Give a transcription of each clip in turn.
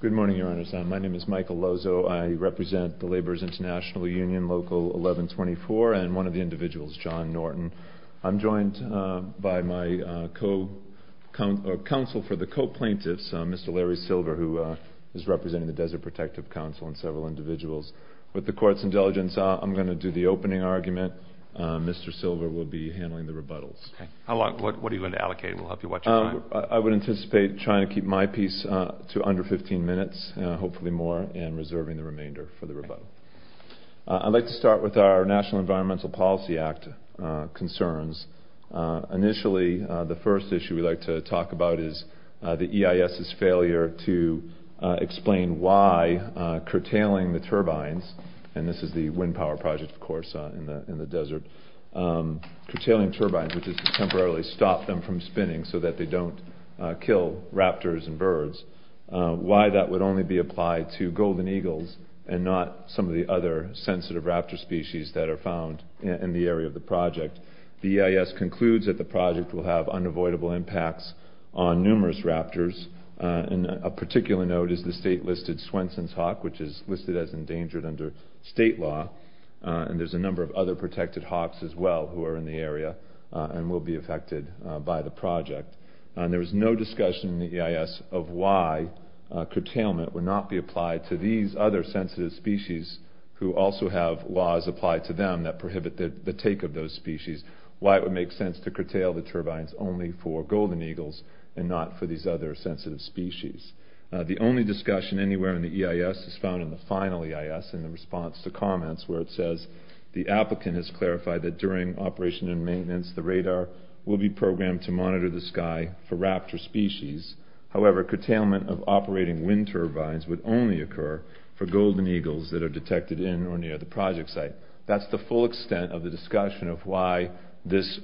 Good morning, Your Honors. My name is Michael Lozo. I represent the Laborers' International Union, Local 1124, and one of the individuals, John Norton. I'm joined by my counsel for the co-plaintiffs, Mr. Larry Silver, who is representing the Desert Protective Council and several individuals. With the Court's indulgence, I'm going to do the opening argument. Mr. Silver will be handling the rebuttals. Okay. What are you going to allocate? We'll help you watch your time. I would anticipate trying to keep my piece to under 15 minutes, hopefully more, and reserving the remainder for the rebuttal. I'd like to start with our National Environmental Policy Act concerns. Initially, the first issue we'd like to talk about is the EIS's failure to explain why curtailing the turbines—and this is the wind power project, of course, in the desert—curtailing turbines, which is to temporarily stop them from spinning so that they don't kill raptors and birds. Why that would only be applied to golden eagles and not some of the other sensitive raptor species that are found in the area of the project. The EIS concludes that the project will have unavoidable impacts on numerous raptors. A particular note is the state-listed Swenson's Hawk, which is listed as endangered under state law, and there's a number of other protected hawks as well who are in the project. There was no discussion in the EIS of why curtailment would not be applied to these other sensitive species who also have laws applied to them that prohibit the take of those species, why it would make sense to curtail the turbines only for golden eagles and not for these other sensitive species. The only discussion anywhere in the EIS is found in the final EIS in the response to comments where it says the applicant has clarified that during operation and maintenance, the radar will be programmed to monitor the sky for raptor species. However, curtailment of operating wind turbines would only occur for golden eagles that are detected in or near the project site. That's the full extent of the discussion of why this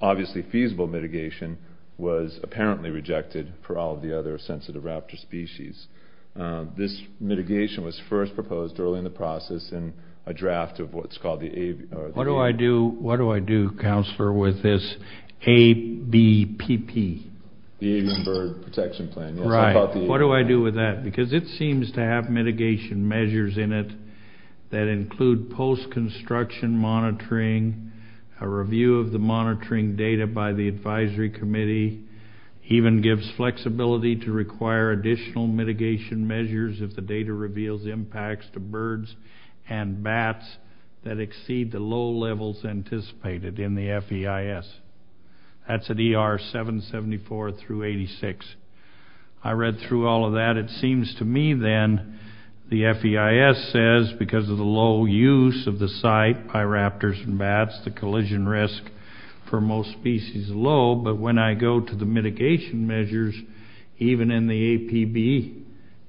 obviously feasible mitigation was apparently rejected for all the other sensitive raptor species. This mitigation was first proposed early in the process in a draft of what's called the... What do I do, what do I do, Councillor, with this ABPP? The A-member Protection Plan. Right. What do I do with that? Because it seems to have mitigation measures in it that include post-construction monitoring, a review of the monitoring data by the advisory committee, even gives flexibility to require additional mitigation measures if the data reveals impacts to birds and bats that exceed the low levels anticipated in the FEIS. That's at ER 774 through 86. I read through all of that. It seems to me then the FEIS says because of the low use of the site by raptors and bats, the collision risk for most species is low, but when I go to the mitigation measures, even in the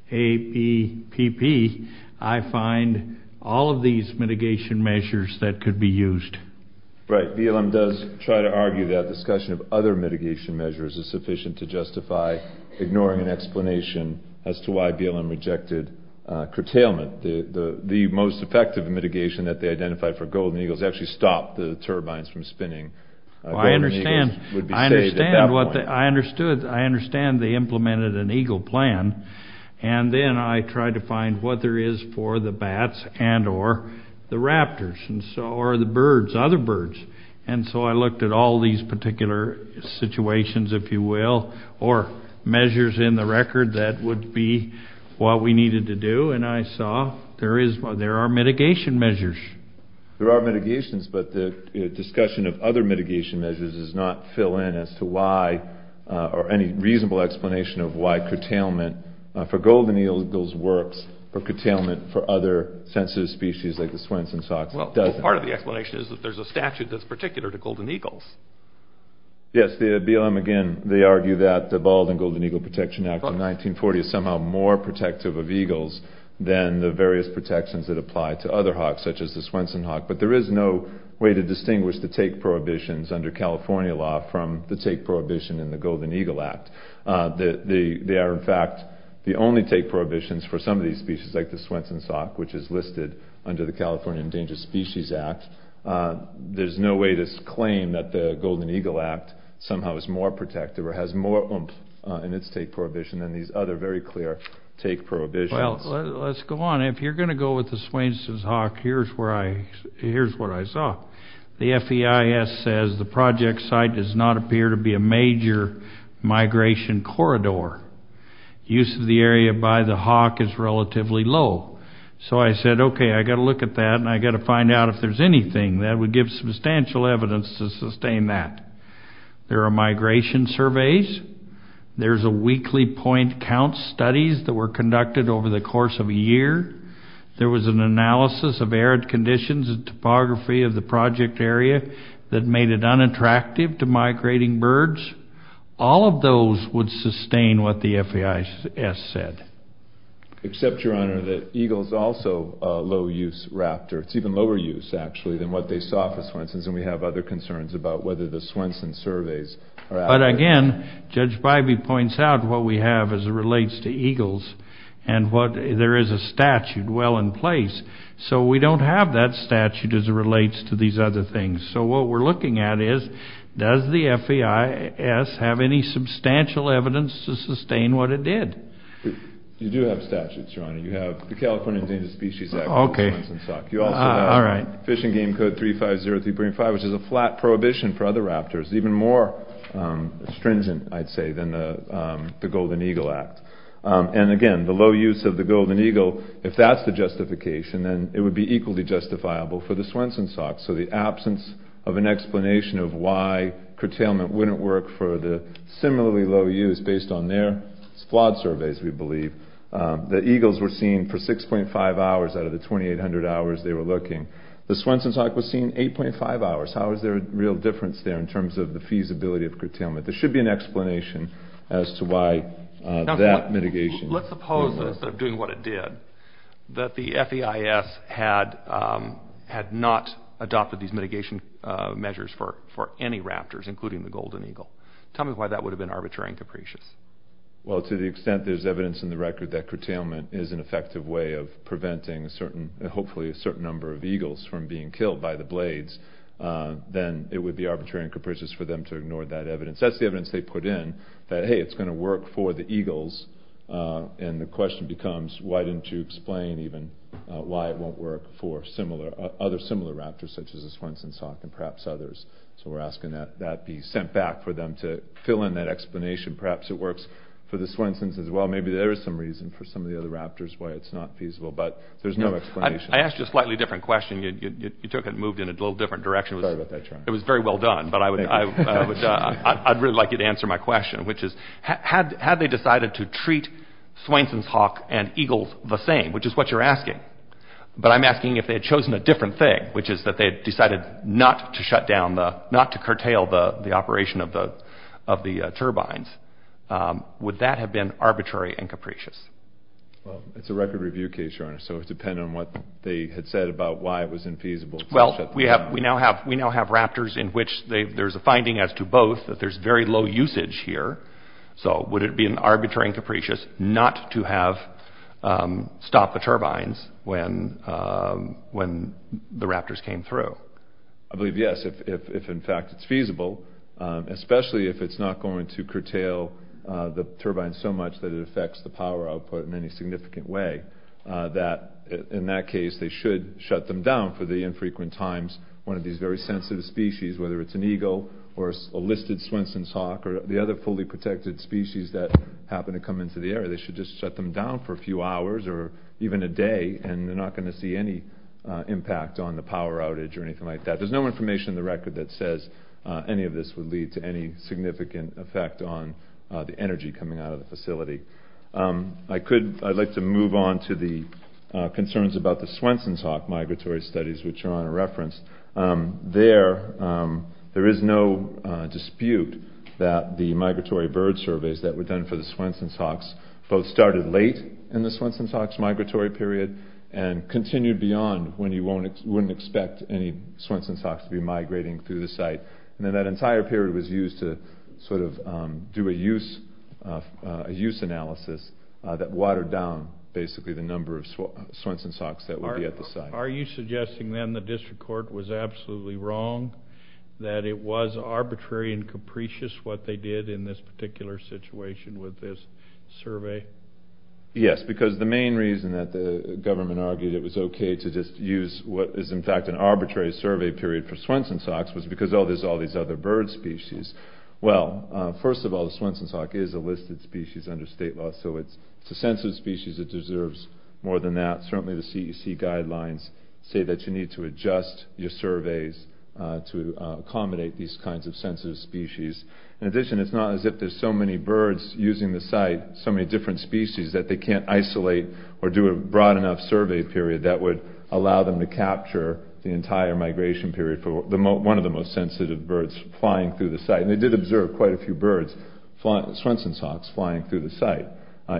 ABPP, I find all of these mitigation measures that could be used. Right. BLM does try to argue that discussion of other mitigation measures is sufficient to justify ignoring an explanation as to why BLM rejected curtailment. The most effective mitigation that they identified for golden eagles actually stopped the turbines from spinning. Well, I understand. Golden eagles would be saved at that point. I understand what, I understood, I understand they implemented an eagle plan, and then I tried to find what there is for the bats and or the raptors, and so, or the birds, other birds. And so I looked at all these particular situations, if you will, or measures in the record that would be what we needed to do, and I saw there is, there are mitigation measures. There are mitigations, but the discussion of other mitigation measures does not fill in as to why, or any reasonable explanation of why curtailment for golden eagles works for curtailment for other sensitive species like the Swenson Sox. Well, part of the explanation is that there's a statute that's particular to golden eagles. Yes, the BLM, again, they argue that the Bald and Golden Eagle Protection Act of other hawks such as the Swenson Hawk, but there is no way to distinguish the take prohibitions under California law from the take prohibition in the Golden Eagle Act. They are, in fact, the only take prohibitions for some of these species like the Swenson Sox, which is listed under the California Endangered Species Act. There's no way to claim that the Golden Eagle Act somehow is more protective or has more oomph in its take prohibition than these other very clear take prohibitions. Well, let's go on. If you're going to go with the Swenson Hawk, here's where I, here's what I saw. The FEIS says the project site does not appear to be a major migration corridor. Use of the area by the hawk is relatively low. So I said, okay, I got to look at that, and I got to find out if there's anything that would give substantial evidence to sustain that. There are migration surveys. There's a weekly point count studies that were conducted over the course of a year. There was an analysis of arid conditions and topography of the project area that made it unattractive to migrating birds. All of those would sustain what the FEIS said. Except, Your Honor, that eagle is also a low-use raptor. It's even lower use, actually, than what they saw for Swensons, and we have other concerns about whether the Swenson surveys are accurate. But again, Judge relates to eagles, and there is a statute well in place. So we don't have that statute as it relates to these other things. So what we're looking at is, does the FEIS have any substantial evidence to sustain what it did? You do have statutes, Your Honor. You have the California Endangered Species Act. Okay. You also have Fish and Game Code 3503.5, which is a flat prohibition for other raptors, even more stringent, I'd say, than the Golden Eagle Act. And again, the low use of the Golden Eagle, if that's the justification, then it would be equally justifiable for the Swenson Socks. So the absence of an explanation of why curtailment wouldn't work for the similarly low use based on their flawed surveys, we believe. The eagles were seen for 6.5 hours out of the 2,800 hours they were looking. The Swenson Sock was seen 8.5 hours. How is there a real difference there in terms of feasibility of curtailment? There should be an explanation as to why that mitigation wouldn't work. Let's suppose, instead of doing what it did, that the FEIS had not adopted these mitigation measures for any raptors, including the Golden Eagle. Tell me why that would have been arbitrary and capricious. Well, to the extent there's evidence in the record that curtailment is an effective way of preventing, hopefully, a certain number of eagles from being killed by the blades, then it would be arbitrary and capricious for them to ignore that evidence. That's the evidence they put in that, hey, it's going to work for the eagles. And the question becomes, why didn't you explain even why it won't work for other similar raptors such as the Swenson Sock and perhaps others? So we're asking that that be sent back for them to fill in that explanation. Perhaps it works for the Swensons as well. Maybe there is some reason for some of the other raptors why it's not feasible, but there's no explanation. I asked you a slightly different question. You moved in a little different direction. It was very well done, but I'd really like you to answer my question, which is, had they decided to treat Swenson's Hawk and eagles the same, which is what you're asking, but I'm asking if they had chosen a different thing, which is that they had decided not to curtail the operation of the turbines, would that have been arbitrary and capricious? Well, it's a record review case, Your Honor, so it would depend on what they had said about why it was infeasible. Well, we now have raptors in which there's a finding as to both that there's very low usage here. So would it be an arbitrary and capricious not to have stopped the turbines when the raptors came through? I believe yes, if in fact it's feasible, especially if it's not going to curtail the turbines so much that it affects the power output in any significant way, that in that case, they should shut them down for the infrequent times one of these very sensitive species, whether it's an eagle or a listed Swenson's Hawk or the other fully protected species that happen to come into the area. They should just shut them down for a few hours or even a day, and they're not going to see any impact on the power outage or anything like that. There's no information in the record that says any of this would lead to any significant effect on the energy coming out of the facility. I'd like to move on to the concerns about the Swenson's Hawk migratory studies, which are on a reference. There is no dispute that the migratory bird surveys that were done for the Swenson's Hawks both started late in the Swenson's Hawks migratory period and continued beyond when you wouldn't expect any Swenson's Hawks to be migrating through the site. Then that entire period was used to sort of do a use analysis that watered down basically the number of Swenson's Hawks that would be at the site. Are you suggesting then the district court was absolutely wrong, that it was arbitrary and capricious what they did in this particular situation with this survey? Yes, because the main reason that the government argued it was okay to just use what is in the arbitrary survey period for Swenson's Hawks was because, oh, there's all these other bird species. Well, first of all, the Swenson's Hawk is a listed species under state law, so it's a sensitive species that deserves more than that. Certainly the CEC guidelines say that you need to adjust your surveys to accommodate these kinds of sensitive species. In addition, it's not as if there's so many birds using the site, so many different species, that they can't isolate or do a broad enough survey period that would allow them to capture the entire migration period for one of the most sensitive birds flying through the site. They did observe quite a few birds, Swenson's Hawks, flying through the site,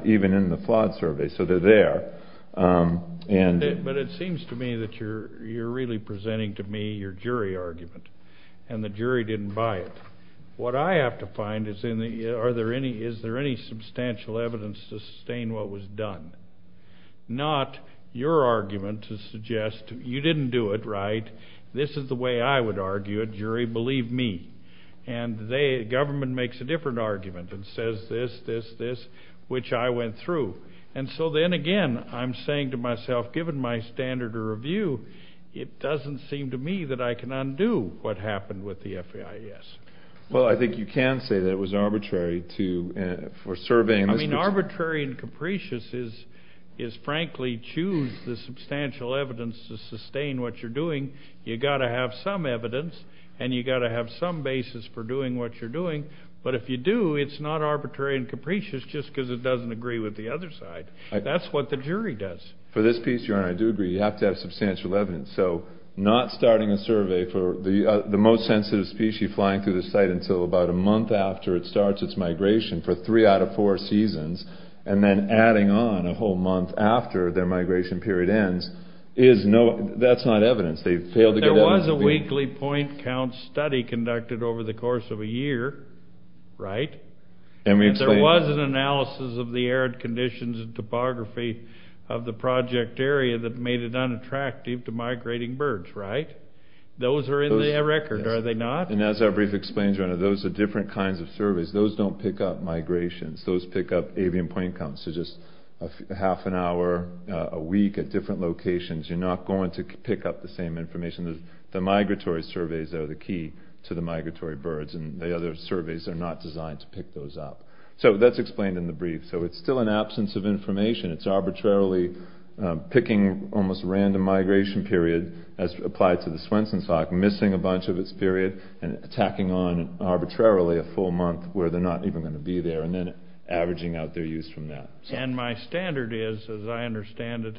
even in the flawed survey, so they're there. But it seems to me that you're really presenting to me your jury argument, and the jury didn't buy it. What I have to find is, is there any substantial evidence to sustain what was done? Not your argument to suggest, you didn't do it right, this is the way I would argue it, jury, believe me. And the government makes a different argument and says this, this, this, which I went through. And so then again, I'm saying to myself, given my standard of review, it doesn't seem to me that I can undo what happened with the FAIS. Well, I think you can say that it was arbitrary to, for surveying this particular... Arbitrary and capricious is, frankly, choose the substantial evidence to sustain what you're doing. You've got to have some evidence, and you've got to have some basis for doing what you're doing. But if you do, it's not arbitrary and capricious just because it doesn't agree with the other side. That's what the jury does. For this piece, your Honor, I do agree, you have to have substantial evidence. So, not starting a survey for the most sensitive species flying through the site until about a month after it starts its migration for three out of four seasons, and then adding on a whole month after their migration period ends, that's not evidence. There was a weekly point count study conducted over the course of a year, right? And there was an analysis of the arid conditions and topography of the project area that made it unattractive to migrating birds, right? Those are in the record, are they not? And as our brief explains, Your Honor, those are different kinds of surveys. Those don't pick up migrations. Those pick up avian point counts. So just half an hour a week at different locations, you're not going to pick up the same information. The migratory surveys are the key to the migratory birds, and the other surveys are not designed to pick those up. So that's explained in the brief. So it's still an absence of information. It's arbitrarily picking almost random migration period as applied to the Swenson's Hawk, missing a bunch of its period and attacking on arbitrarily a full month where they're not even going to be there, and then averaging out their use from that. And my standard is, as I understand it,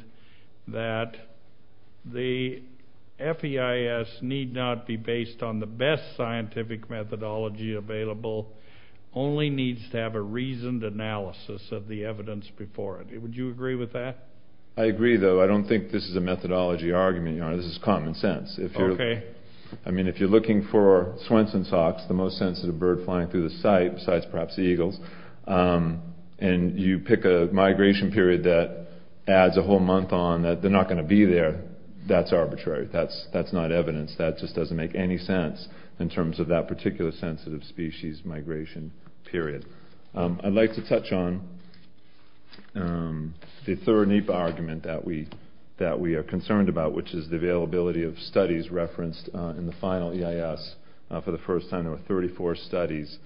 that the FEIS need not be based on the best scientific methodology available, only needs to have a reasoned analysis of the evidence before it. Would you agree with that? I agree, though. I don't think this is a methodology argument, Your Honor. This is common sense. Okay. I mean, if you're looking for Swenson's Hawks, the most sensitive bird flying through the site, besides perhaps the eagles, and you pick a migration period that adds a whole month on, that they're not going to be there, that's arbitrary. That's not evidence. That just doesn't make any sense in terms of that particular sensitive species migration period. I'd like to touch on the third NEPA argument that we are concerned about, which is the availability of studies referenced in the final EIS. For the first time, there were 34 studies.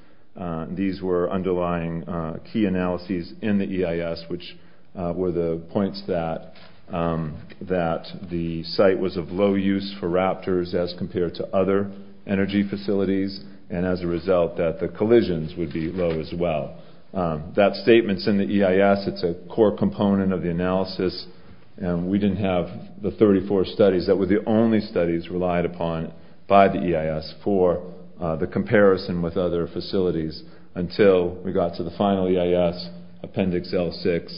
These were underlying key analyses in the EIS, which were the points that the site was of low use for raptors as compared to other energy facilities, and as a result that the collisions would be low as well. That statement's in the EIS. It's a core component of the analysis. We didn't have the 34 studies that were the only studies relied upon by the EIS for the comparison with other facilities until we got to the final EIS, Appendix L6.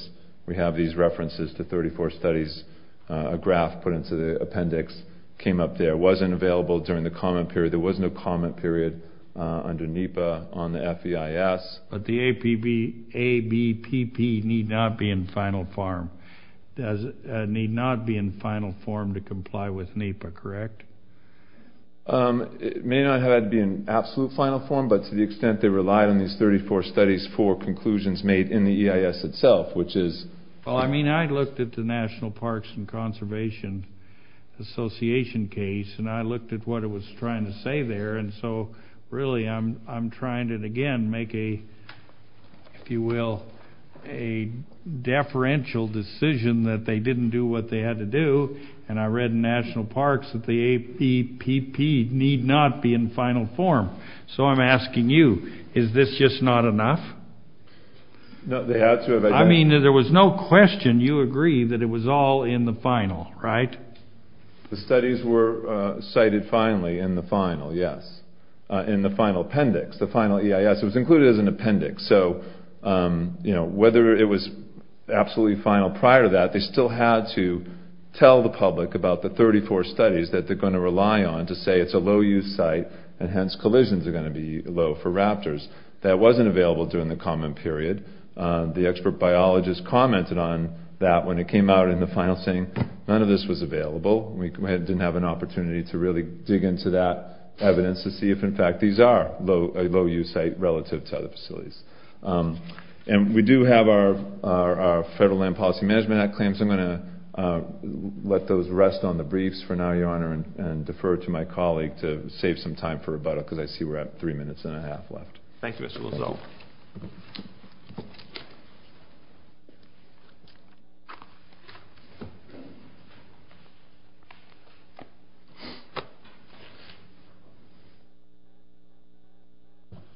We have these references to 34 studies, a graph put into the appendix, came up there. It wasn't available during the comment period. under NEPA on the FEIS. But the ABPP need not be in final form to comply with NEPA, correct? It may not have had to be in absolute final form, but to the extent they relied on these 34 studies for conclusions made in the EIS itself, which is... Well, I mean, I looked at the National Parks and Conservation Association case, and I looked at what it was trying to say there. And so, really, I'm trying to, again, make a, if you will, a deferential decision that they didn't do what they had to do. And I read in National Parks that the ABPP need not be in final form. So I'm asking you, is this just not enough? No, they had to have... I mean, there was no question, you agree, that it was all in the final, right? The studies were cited finally in the final, yes, in the final appendix. The final EIS was included as an appendix. So whether it was absolutely final prior to that, they still had to tell the public about the 34 studies that they're going to rely on to say it's a low-use site, and hence collisions are going to be low for raptors. That wasn't available during the comment period. The expert biologist commented on that when it came out in the final, saying none of this was available. We didn't have an opportunity to really dig into that evidence to see if, in fact, these are a low-use site relative to other facilities. And we do have our Federal Land Policy Management Act claims. I'm going to let those rest on the briefs for now, Your Honor, and defer to my colleague to save some time for rebuttal because I see we're at three minutes and a half left. Thank you, Mr. Lozano.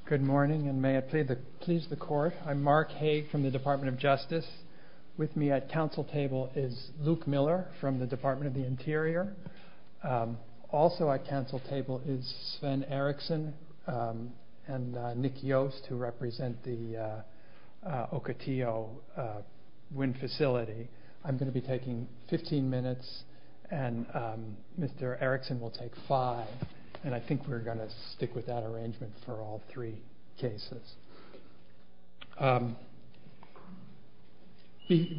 Good morning, and may it please the Court. I'm Mark Haig from the Department of Justice. With me at council table is Luke Miller from the Department of the Interior. Also at council table is Sven Eriksson and Nick Yost who represent the Ocotillo Wind Facility. I'm going to be taking 15 minutes, and Mr. Eriksson will take five, and I think we're going to stick with that arrangement for all three cases.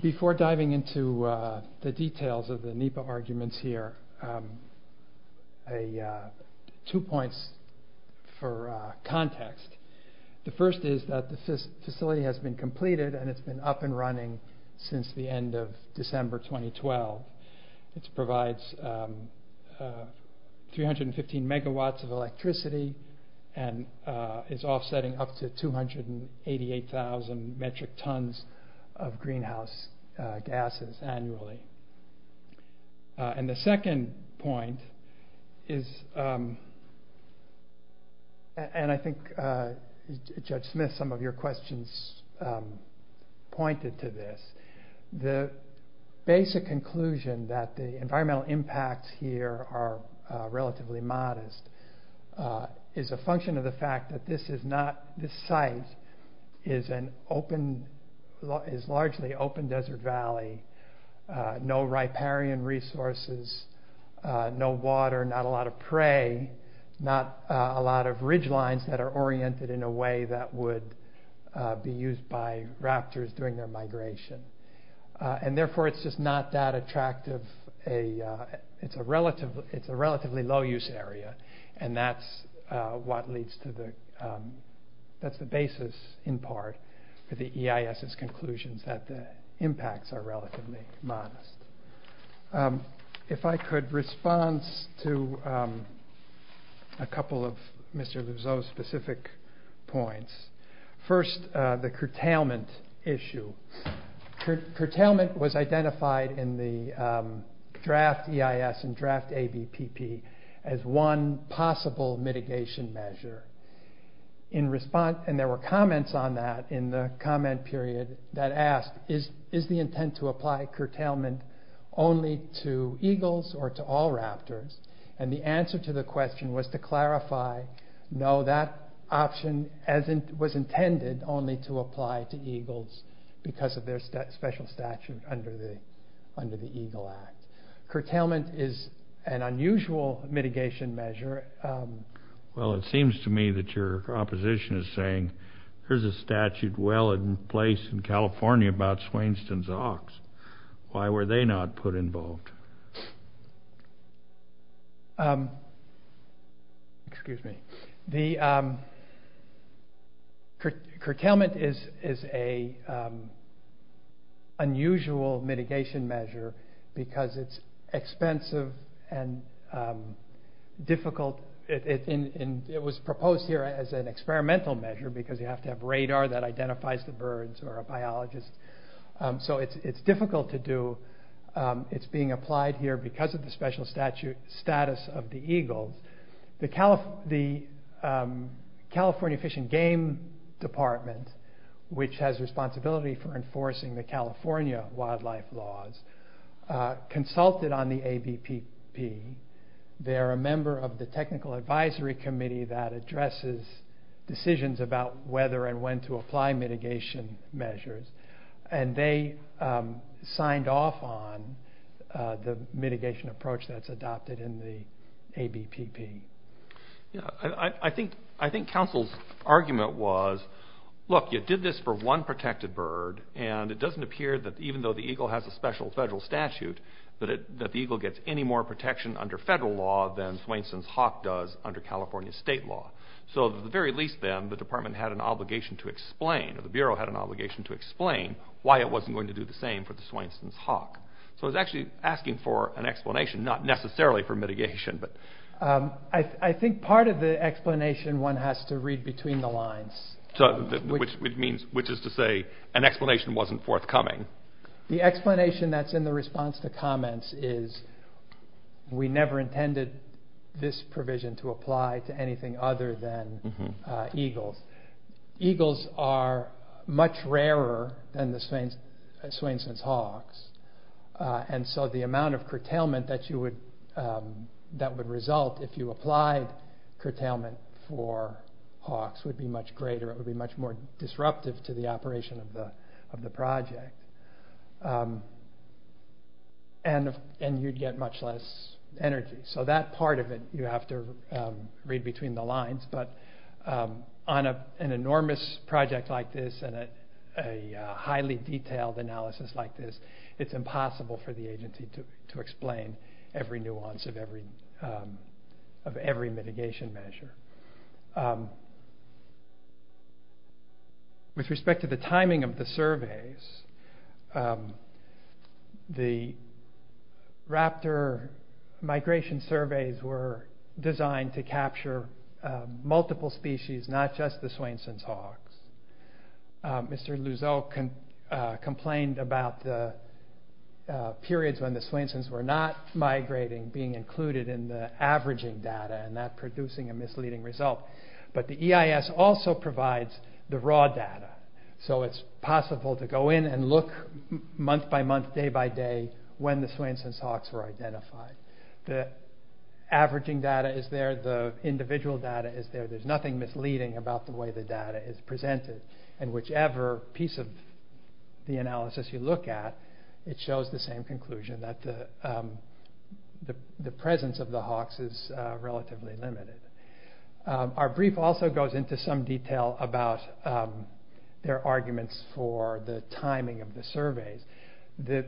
Before diving into the details of the NEPA arguments here, two points for context. The first is that the facility has been completed and it's been up and running since the end of December 2012. It's offsetting up to 288,000 metric tons of greenhouse gases annually. The second point is, and I think Judge Smith, some of your questions pointed to this, the basic conclusion that the environmental impacts here are relatively modest is a function of the fact that this site is largely open desert valley, no riparian resources, no water, not a lot of prey, not a lot of ridgelines that are oriented in a way that would be used by raptors during their migration. And therefore it's just not that attractive, it's a relatively low use area, and that's the basis in part for the EIS's conclusions that the impacts are relatively modest. If I could response to a couple of Mr. Luzo's specific points. First, the curtailment issue. Curtailment was identified in the draft EIS and draft ABPP as one possible mitigation measure. And there were comments on that in the comment period that asked, is the intent to apply curtailment only to eagles or to all raptors? And the answer to the question was to clarify, no, that option was intended only to apply to eagles because of their special statute under the Eagle Act. Curtailment is an unusual mitigation measure. Well, it seems to me that your opposition is saying, here's a statute well in place in California about Swainston's Ox, why were they not put involved? Excuse me. Curtailment is an unusual mitigation measure because it's expensive and difficult. It was proposed here as an experimental measure because you have to have radar that identifies the birds or a biologist, so it's difficult to do. It's being applied here because of the special status of the eagles. The California Fish and Game Department, which has responsibility for enforcing the California wildlife laws, consulted on the ABPP. They are a member of the Technical Advisory Committee that addresses decisions about whether and when to apply mitigation measures. They signed off on the mitigation approach that's adopted in the ABPP. I think counsel's argument was, look, you did this for one protected bird, and it doesn't appear that even though the eagle has a special federal statute, that the eagle gets any more protection under federal law than Swainston's hawk does under California state law. So at the very least then, the department had an obligation to explain, or the bureau had an obligation to explain, why it wasn't going to do the same for the Swainston's hawk. So it's actually asking for an explanation, not necessarily for mitigation. I think part of the explanation one has to read between the lines. Which is to say an explanation wasn't forthcoming. The explanation that's in the response to comments is we never intended this provision to apply to anything other than eagles. Eagles are much rarer than the Swainston's hawks. And so the amount of curtailment that would result if you applied curtailment for hawks would be much greater. It would be much more disruptive to the operation of the project. And you'd get much less energy. So that part of it you have to read between the lines. But on an enormous project like this and a highly detailed analysis like this, it's impossible for the agency to explain every nuance of every mitigation measure. With respect to the timing of the surveys, the raptor migration surveys were designed to capture multiple species, not just the Swainston's hawks. Mr. Luzo complained about the periods when the Swainston's were not migrating being included in the averaging data and that producing a misleading result. But the EIS also provides the raw data. So it's possible to go in and look month by month, day by day when the Swainston's hawks were identified. The averaging data is there. The individual data is there. There's nothing misleading about the way the data is presented. And whichever piece of the analysis you look at, it shows the same conclusion that the presence of the hawks is relatively limited. Our brief also goes into some detail about their arguments for the timing of the surveys. The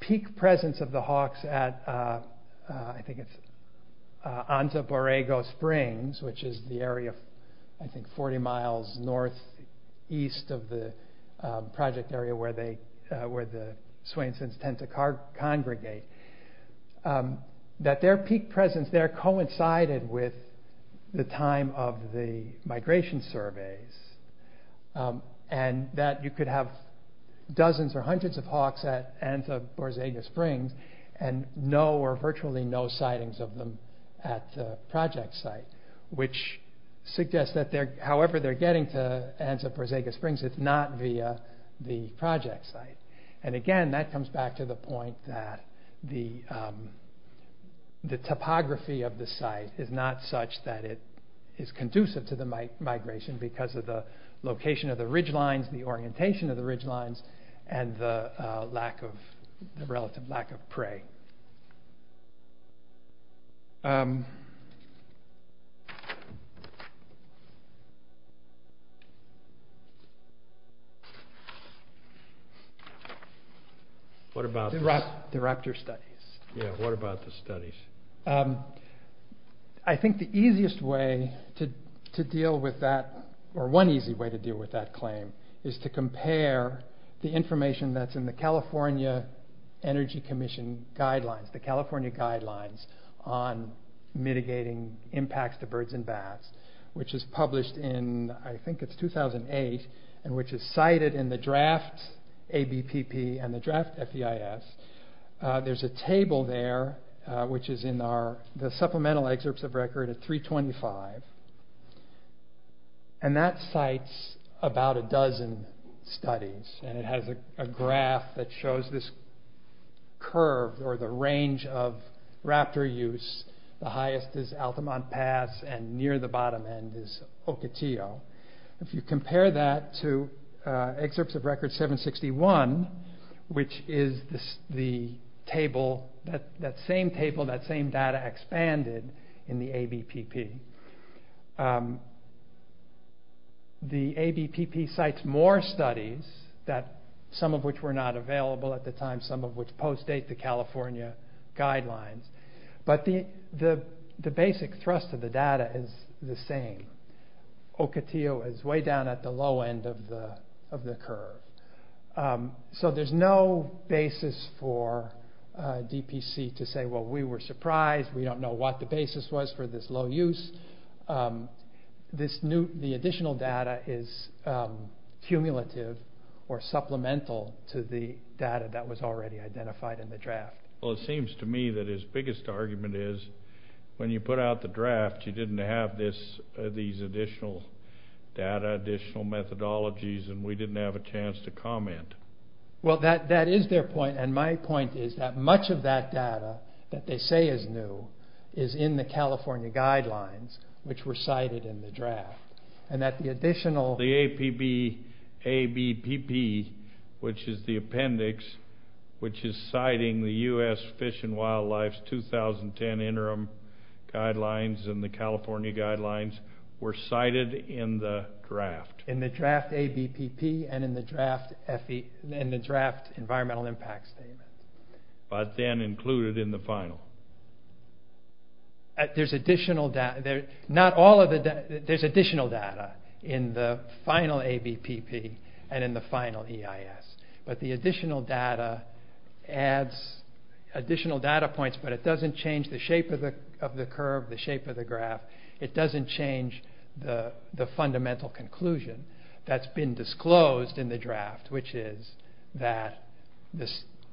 peak presence of the hawks at, I think it's on the Borrego Springs, which is the area of, I think, 40 miles northeast of the project area where the Swainston's tend to congregate, that their peak presence there coincided with the time of the migration surveys and that you could have dozens or hundreds of hawks at Anza-Borrego Springs and no or virtually no sightings of them at the project site, which suggests that however they're getting to Anza-Borrego Springs, it's not via the project site. And again, that comes back to the point that the topography of the site is not such that it is conducive to the migration because of the location of the ridge lines, the orientation of the ridge lines, and the relative lack of prey. What about the raptor studies? Yeah, what about the studies? I think the easiest way to deal with that, or one easy way to deal with that claim, is to compare the information that's in the California Energy Commission guidelines, the California guidelines on mitigating impacts to birds and bats, which is published in, I think it's 2008, and which is cited in the draft ABPP and the draft FEIS. There's a table there, which is in the supplemental excerpts of record at 325, and that cites about a dozen studies and it has a graph that shows this curve or the range of raptor use. The highest is Altamont Pass and near the bottom end is Ocotillo. If you compare that to excerpts of record 761, which is the table, that same table, that same data expanded in the ABPP. The ABPP cites more studies, some of which were not available at the time, some of which post-date the California guidelines, but the basic thrust of the data is the same. Ocotillo is way down at the low end of the curve. So there's no basis for DPC to say, well, we were surprised, we don't know what the basis was for this low use. The additional data is cumulative or supplemental to the data that was already identified in the draft. Well, it seems to me that his biggest argument is when you put out the draft, you didn't have these additional data, additional methodologies, and we didn't have a chance to comment. Well, that is their point, and my point is that much of that data that they say is new is in the California guidelines, which were cited in the draft, and that the additional... The APB, ABPP, which is the appendix, which is citing the U.S. Fish and Wildlife's 2010 interim guidelines and the California guidelines were cited in the draft. In the draft ABPP and in the draft FE, but then included in the final. There's additional data. There's additional data in the final ABPP and in the final EIS, but the additional data adds additional data points, but it doesn't change the shape of the curve, the shape of the graph. that's been disclosed in the draft, which is that the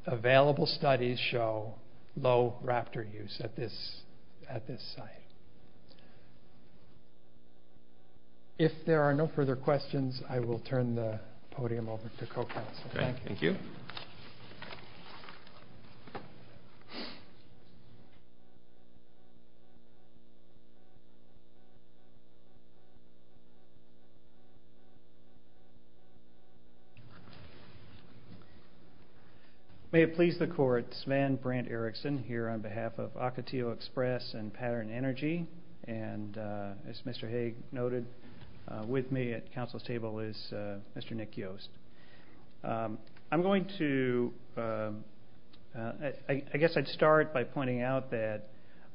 available studies show low raptor use at this site. If there are no further questions, I will turn the podium over to co-counsel. Thank you. May it please the court, Sven Brandt Erickson, here on behalf of Ocotillo Express and Pattern Energy, and as Mr. Hague noted, with me at counsel's table is Mr. Nick Yost. I'm going to... I guess I'd start by pointing out that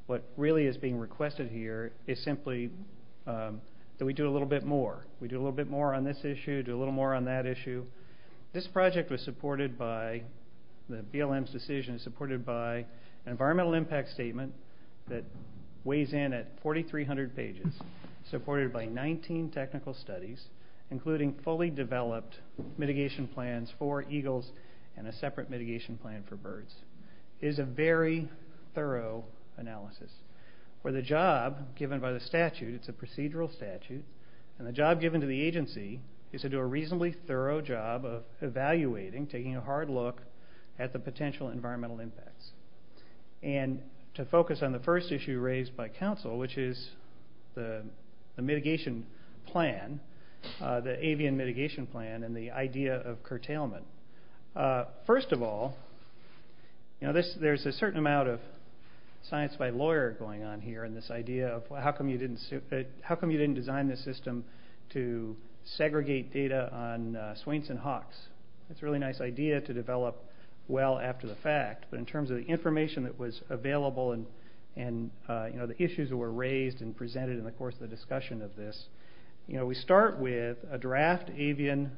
what really is being requested here is simply that we do a little bit more. We do a little bit more on this issue, do a little more on that issue. This project was supported by the BLM's decision, supported by an environmental impact statement that weighs in at 4,300 pages, supported by 19 technical studies, including fully developed mitigation plans for eagles and a separate mitigation plan for birds. It is a very thorough analysis. For the job given by the statute, it's a procedural statute, and the job given to the agency is to do a reasonably thorough job of evaluating, taking a hard look at the potential environmental impacts, and to focus on the first issue raised by counsel, which is the mitigation plan, the avian mitigation plan and the idea of curtailment. First of all, you know, there's a certain amount of science by lawyer going on here and this idea of how come you didn't design this system to segregate data on swains and hawks. It's a really nice idea to develop well after the fact, but in terms of the information that was available and, you know, the issues that were raised and presented in the course of the discussion of this, you know, we start with a draft avian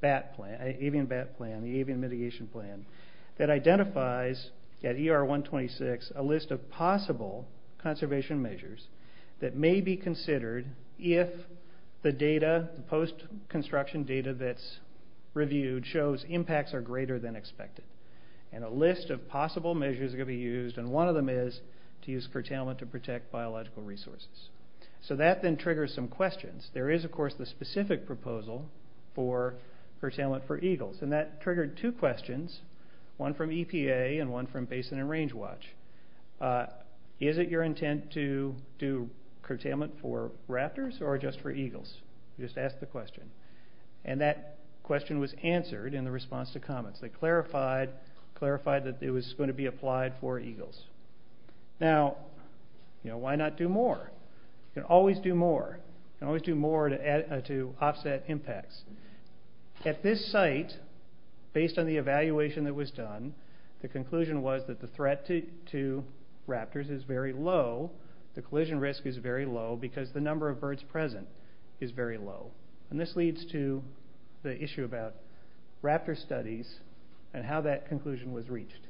BAT plan, avian BAT plan, the avian mitigation plan, that identifies at ER 126 a list of possible conservation measures that may be considered if the data, the post-construction data that's reviewed shows impacts are greater than expected, and a list of possible measures are going to be used, and one of them is to use curtailment to protect biological resources. So that then triggers some questions. There is, of course, the specific proposal for curtailment for eagles, and that triggered two questions, one from EPA and one from Basin and Range Watch. Is it your intent to do curtailment for raptors or just for eagles? Just ask the question. And that question was answered in the response to comments. They clarified that it was going to be applied for eagles. Now, you know, why not do more? You can always do more. You can always do more to offset impacts. At this site, based on the evaluation that was done, the conclusion was that the threat to raptors is very low. The collision risk is very low because the number of birds present is very low. And this leads to the issue about raptor studies and how that conclusion was reached.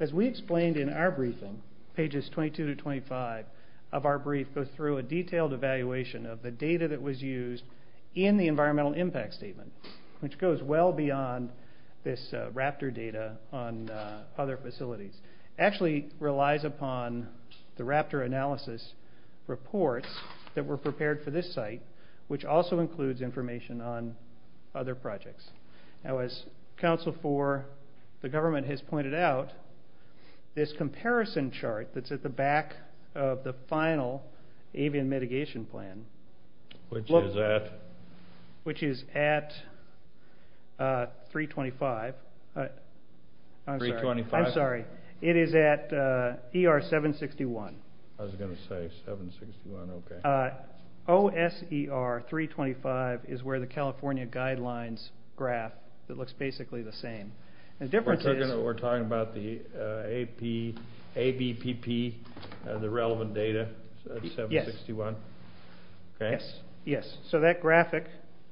As we explained in our briefing, pages 22 to 25 of our brief, goes through a detailed evaluation of the data that was used in the environmental impact statement, which goes well beyond this raptor data on other facilities. It actually relies upon the raptor analysis reports that were prepared for this site, which also includes information on other projects. Now, as Council for the Government has pointed out, this comparison chart that's at the back of the final avian mitigation plan. Which is at? Which is at 325. I'm sorry. 325? I'm sorry. It is at ER 761. I was going to say 761. Okay. OSER 325 is where the California guidelines graph that looks basically the same. We're talking about the ABPP, the relevant data, 761? Yes. Okay. Yes. So that graphic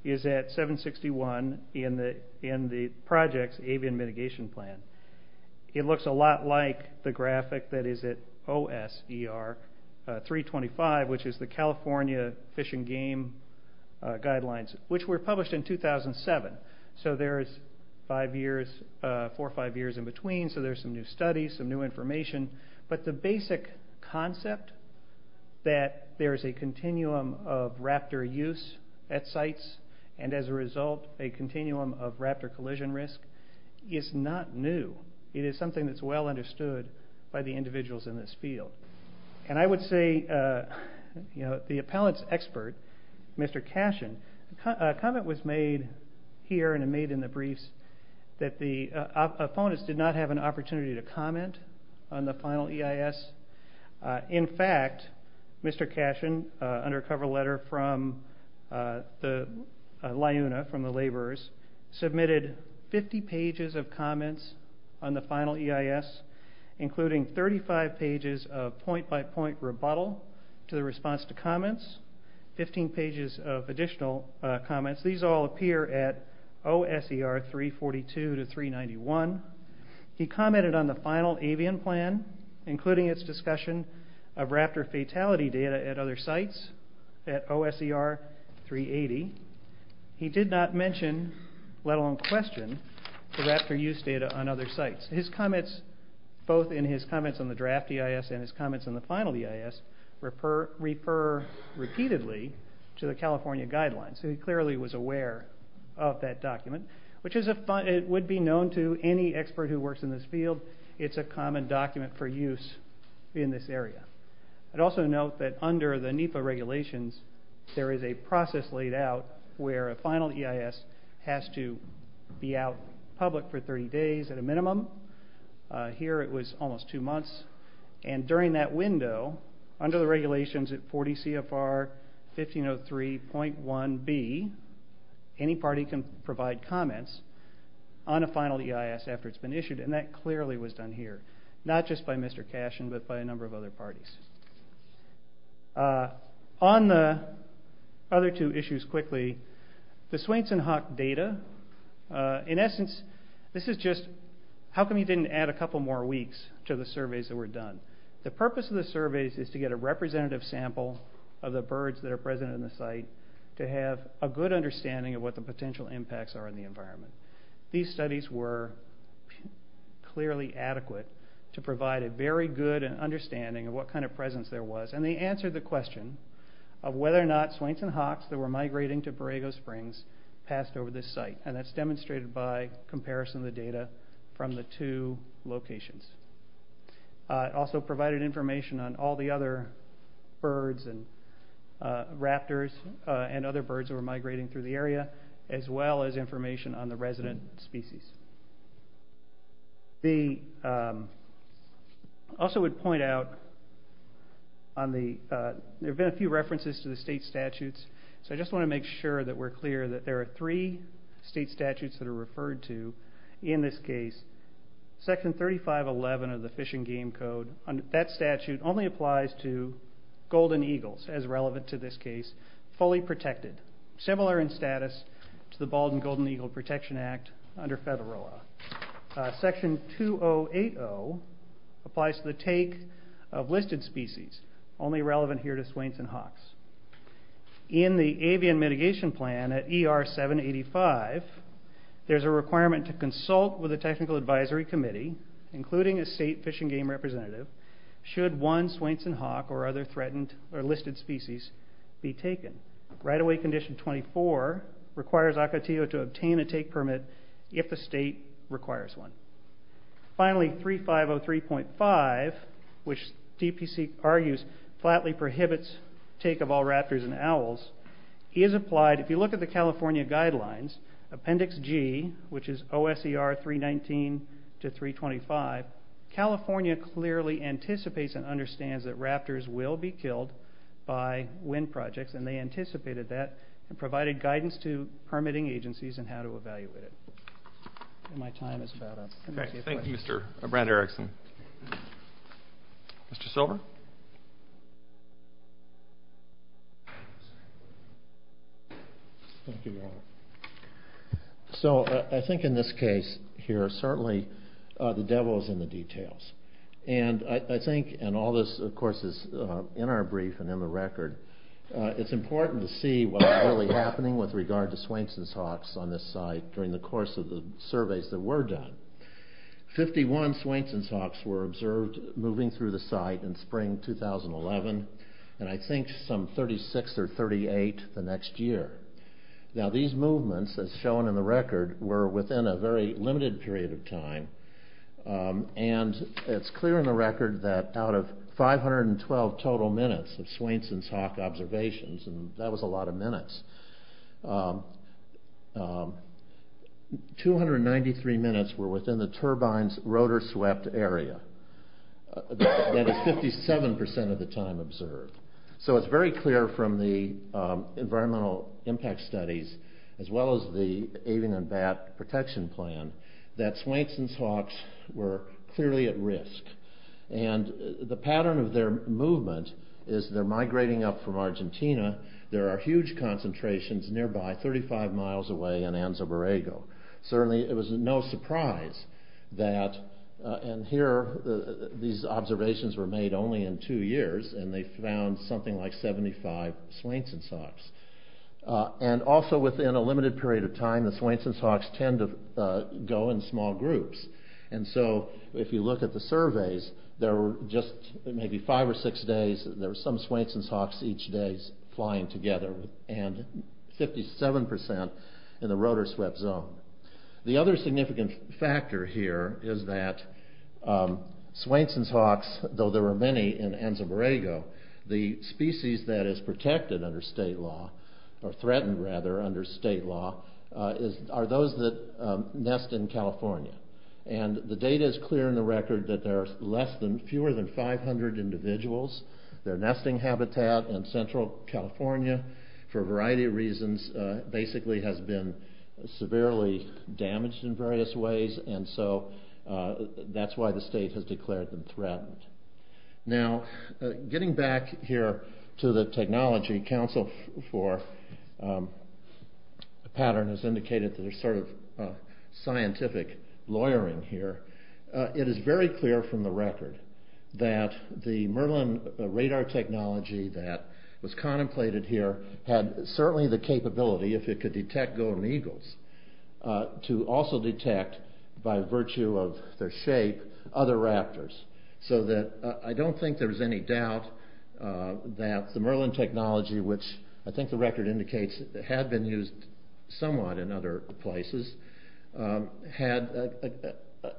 is at 761 in the project's avian mitigation plan. It looks a lot like the graphic that is at OSER 325, which is the California Fish and Game Guidelines, which were published in 2007. So there's four or five years in between, so there's some new studies, some new information. But the basic concept that there is a continuum of raptor use at sites and, as a result, a continuum of raptor collision risk is not new. It is something that's well understood by the individuals in this field. And I would say the appellant's expert, Mr. Cashin, a comment was made here and made in the briefs that the appellants did not have an opportunity to comment on the final EIS. In fact, Mr. Cashin, under a cover letter from the LIUNA, from the laborers, submitted 50 pages of comments on the final EIS, including 35 pages of point-by-point rebuttal to the response to comments, 15 pages of additional comments. These all appear at OSER 342 to 391. He commented on the final avian plan, including its discussion of raptor fatality data at other sites at OSER 380. He did not mention, let alone question, the raptor use data on other sites. His comments, both in his comments on the draft EIS and his comments on the final EIS, refer repeatedly to the California guidelines. He clearly was aware of that document, which would be known to any expert who works in this field. It's a common document for use in this area. I'd also note that under the NEPA regulations, there is a process laid out where a final EIS has to be out public for 30 days at a minimum. Here it was almost two months. And during that window, under the regulations at 40 CFR 1503.1b, any party can provide comments on a final EIS after it's been issued, and that clearly was done here, not just by Mr. Cashin, but by a number of other parties. On the other two issues quickly, the Swainson-Hawk data, in essence, this is just how come you didn't add a couple more weeks to the surveys that were done. The purpose of the surveys is to get a representative sample of the birds that are present in the site to have a good understanding of what the potential impacts are in the environment. These studies were clearly adequate to provide a very good understanding of what kind of presence there was, and they answered the question of whether or not Swainson-Hawks that were migrating to Borrego Springs passed over this site. And that's demonstrated by comparison of the data from the two locations. It also provided information on all the other birds and raptors and other birds that were migrating through the area, as well as information on the resident species. I also would point out, there have been a few references to the state statutes, so I just want to make sure that we're clear that there are three state statutes that are referred to in this case. Section 3511 of the Fish and Game Code, that statute only applies to golden eagles, as relevant to this case, fully protected, similar in status to the Bald and Golden Eagle Protection Act under Federal Law. Section 2080 applies to the take of listed species, only relevant here to Swainson-Hawks. In the avian mitigation plan at ER 785, there's a requirement to consult with a technical advisory committee, including a state fish and game representative, should one Swainson-Hawk or other threatened or listed species be taken. Right-of-way condition 24 requires Ocotillo to obtain a take permit if the state requires one. Finally, 3503.5, which DPC argues flatly prohibits take of all raptors and owls, is applied, if you look at the California guidelines, Appendix G, which is OSER 319 to 325, California clearly anticipates and understands that raptors will be killed by wind projects, and they anticipated that and provided guidance to permitting agencies on how to evaluate it. My time is about up. Thank you, Mr. Brad Erickson. Mr. Silver? So I think in this case here, certainly the devil is in the details. And I think, and all this, of course, is in our brief and in the record, it's important to see what's really happening with regard to Swainson's hawks on this site during the course of the surveys that were done. Fifty-one Swainson's hawks were observed moving through the site in spring 2011, and I think some 36 or 38 the next year. Now these movements, as shown in the record, were within a very limited period of time, and it's clear in the record that out of 512 total minutes of Swainson's hawk observations, and that was a lot of minutes, 293 minutes were within the turbine's rotor-swept area. That is 57% of the time observed. So it's very clear from the environmental impact studies, as well as the avian and bat protection plan, that Swainson's hawks were clearly at risk. And the pattern of their movement is they're migrating up from Argentina. There are huge concentrations nearby, 35 miles away in Anza Borrego. Certainly it was no surprise that, and here these observations were made only in two years, and they found something like 75 Swainson's hawks. And also within a limited period of time, the Swainson's hawks tend to go in small groups. And so if you look at the surveys, there were just maybe five or six days, there were some Swainson's hawks each day flying together, and 57% in the rotor-swept zone. The other significant factor here is that Swainson's hawks, though there were many in Anza Borrego, the species that is protected under state law, or threatened rather under state law, are those that nest in California. And the data is clear in the record that there are fewer than 500 individuals. Their nesting habitat in central California, for a variety of reasons, basically has been severely damaged in various ways, Now, getting back here to the technology, Council for Pattern has indicated that there's sort of scientific lawyering here. It is very clear from the record that the Merlin radar technology that was contemplated here had certainly the capability, if it could detect golden eagles, to also detect, by virtue of their shape, other raptors. So that I don't think there's any doubt that the Merlin technology, which I think the record indicates had been used somewhat in other places, had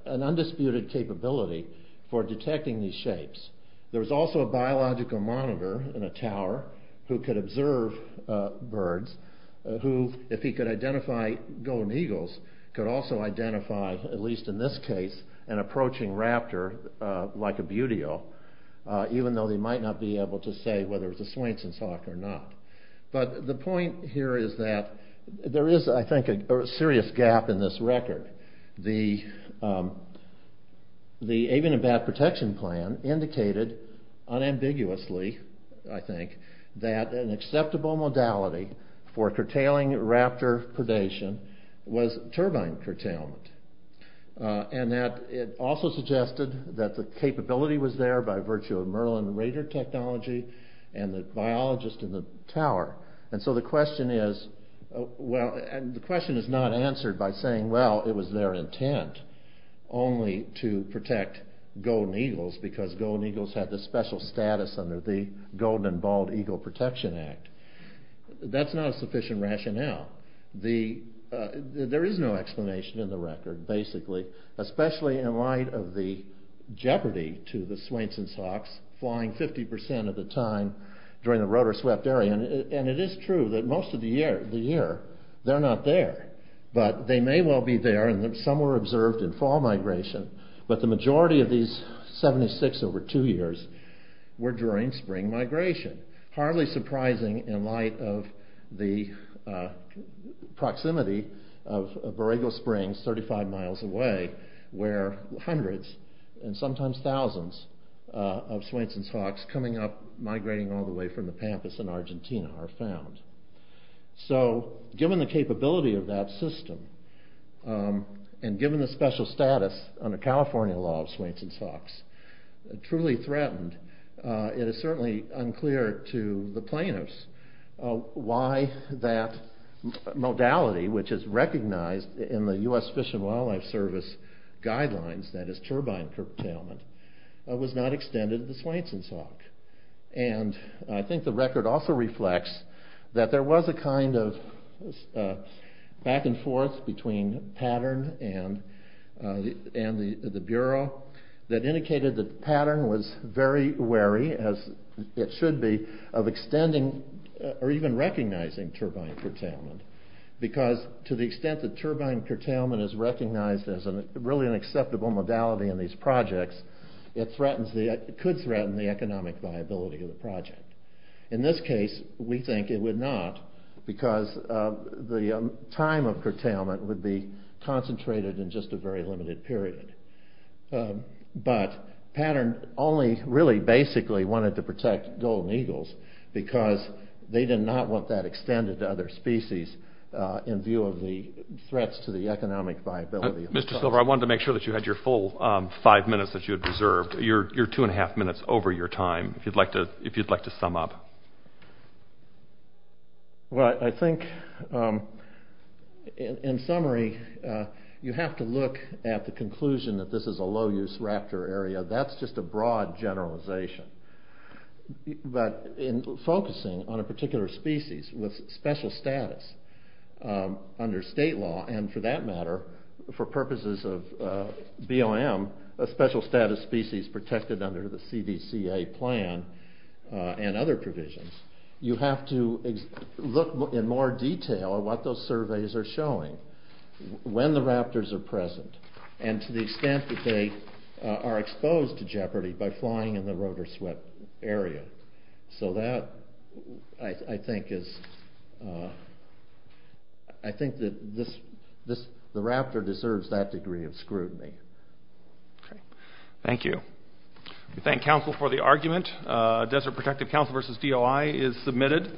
an undisputed capability for detecting these shapes. There was also a biological monitor in a tower who could observe birds, who, if he could identify golden eagles, could also identify, at least in this case, an approaching raptor, like a buteo, even though they might not be able to say whether it's a Swainson's hawk or not. But the point here is that there is, I think, a serious gap in this record. The avian and bat protection plan indicated unambiguously, I think, that an acceptable modality for curtailing raptor predation was turbine curtailment. And that it also suggested that the capability was there by virtue of Merlin radar technology and the biologist in the tower. And so the question is not answered by saying, well, it was their intent only to protect golden eagles because golden eagles had this special status under the Golden and Bald Eagle Protection Act. That's not a sufficient rationale. There is no explanation in the record, basically, especially in light of the jeopardy to the Swainson's hawks flying 50% of the time during the rotor-swept area. And it is true that most of the year they're not there. But they may well be there, and some were observed in fall migration. But the majority of these 76 over two years were during spring migration. Hardly surprising in light of the proximity of Borrego Springs, 35 miles away, where hundreds and sometimes thousands of Swainson's hawks coming up, migrating all the way from the pampas in Argentina are found. So given the capability of that system and given the special status under California law of Swainson's hawks, truly threatened, it is certainly unclear to the plaintiffs why that modality, which is recognized in the U.S. Fish and Wildlife Service guidelines, that is turbine curtailment, was not extended to the Swainson's hawk. And I think the record also reflects that there was a kind of back and forth between Pattern and the Bureau that indicated that Pattern was very wary, as it should be, of extending or even recognizing turbine curtailment. Because to the extent that turbine curtailment is recognized as really an acceptable modality in these projects, it could threaten the economic viability of the project. In this case, we think it would not because the time of curtailment would be concentrated in just a very limited period. But Pattern only really basically wanted to protect golden eagles because they did not want that extended to other species in view of the threats to the economic viability of the project. Mr. Silver, I wanted to make sure that you had your full five minutes that you had reserved, your two and a half minutes over your time, if you'd like to sum up. Well, I think, in summary, you have to look at the conclusion that this is a low-use raptor area. That's just a broad generalization. But in focusing on a particular species with special status under state law, and for that matter, for purposes of BLM, a special status species protected under the CDCA plan and other provisions, you have to look in more detail at what those surveys are showing, when the raptors are present, and to the extent that they are exposed to jeopardy by flying in the rotor swept area. So that, I think, is... I think that the raptor deserves that degree of scrutiny. Okay. Thank you. We thank Council for the argument. Desert Protective Council v. DOI is submitted.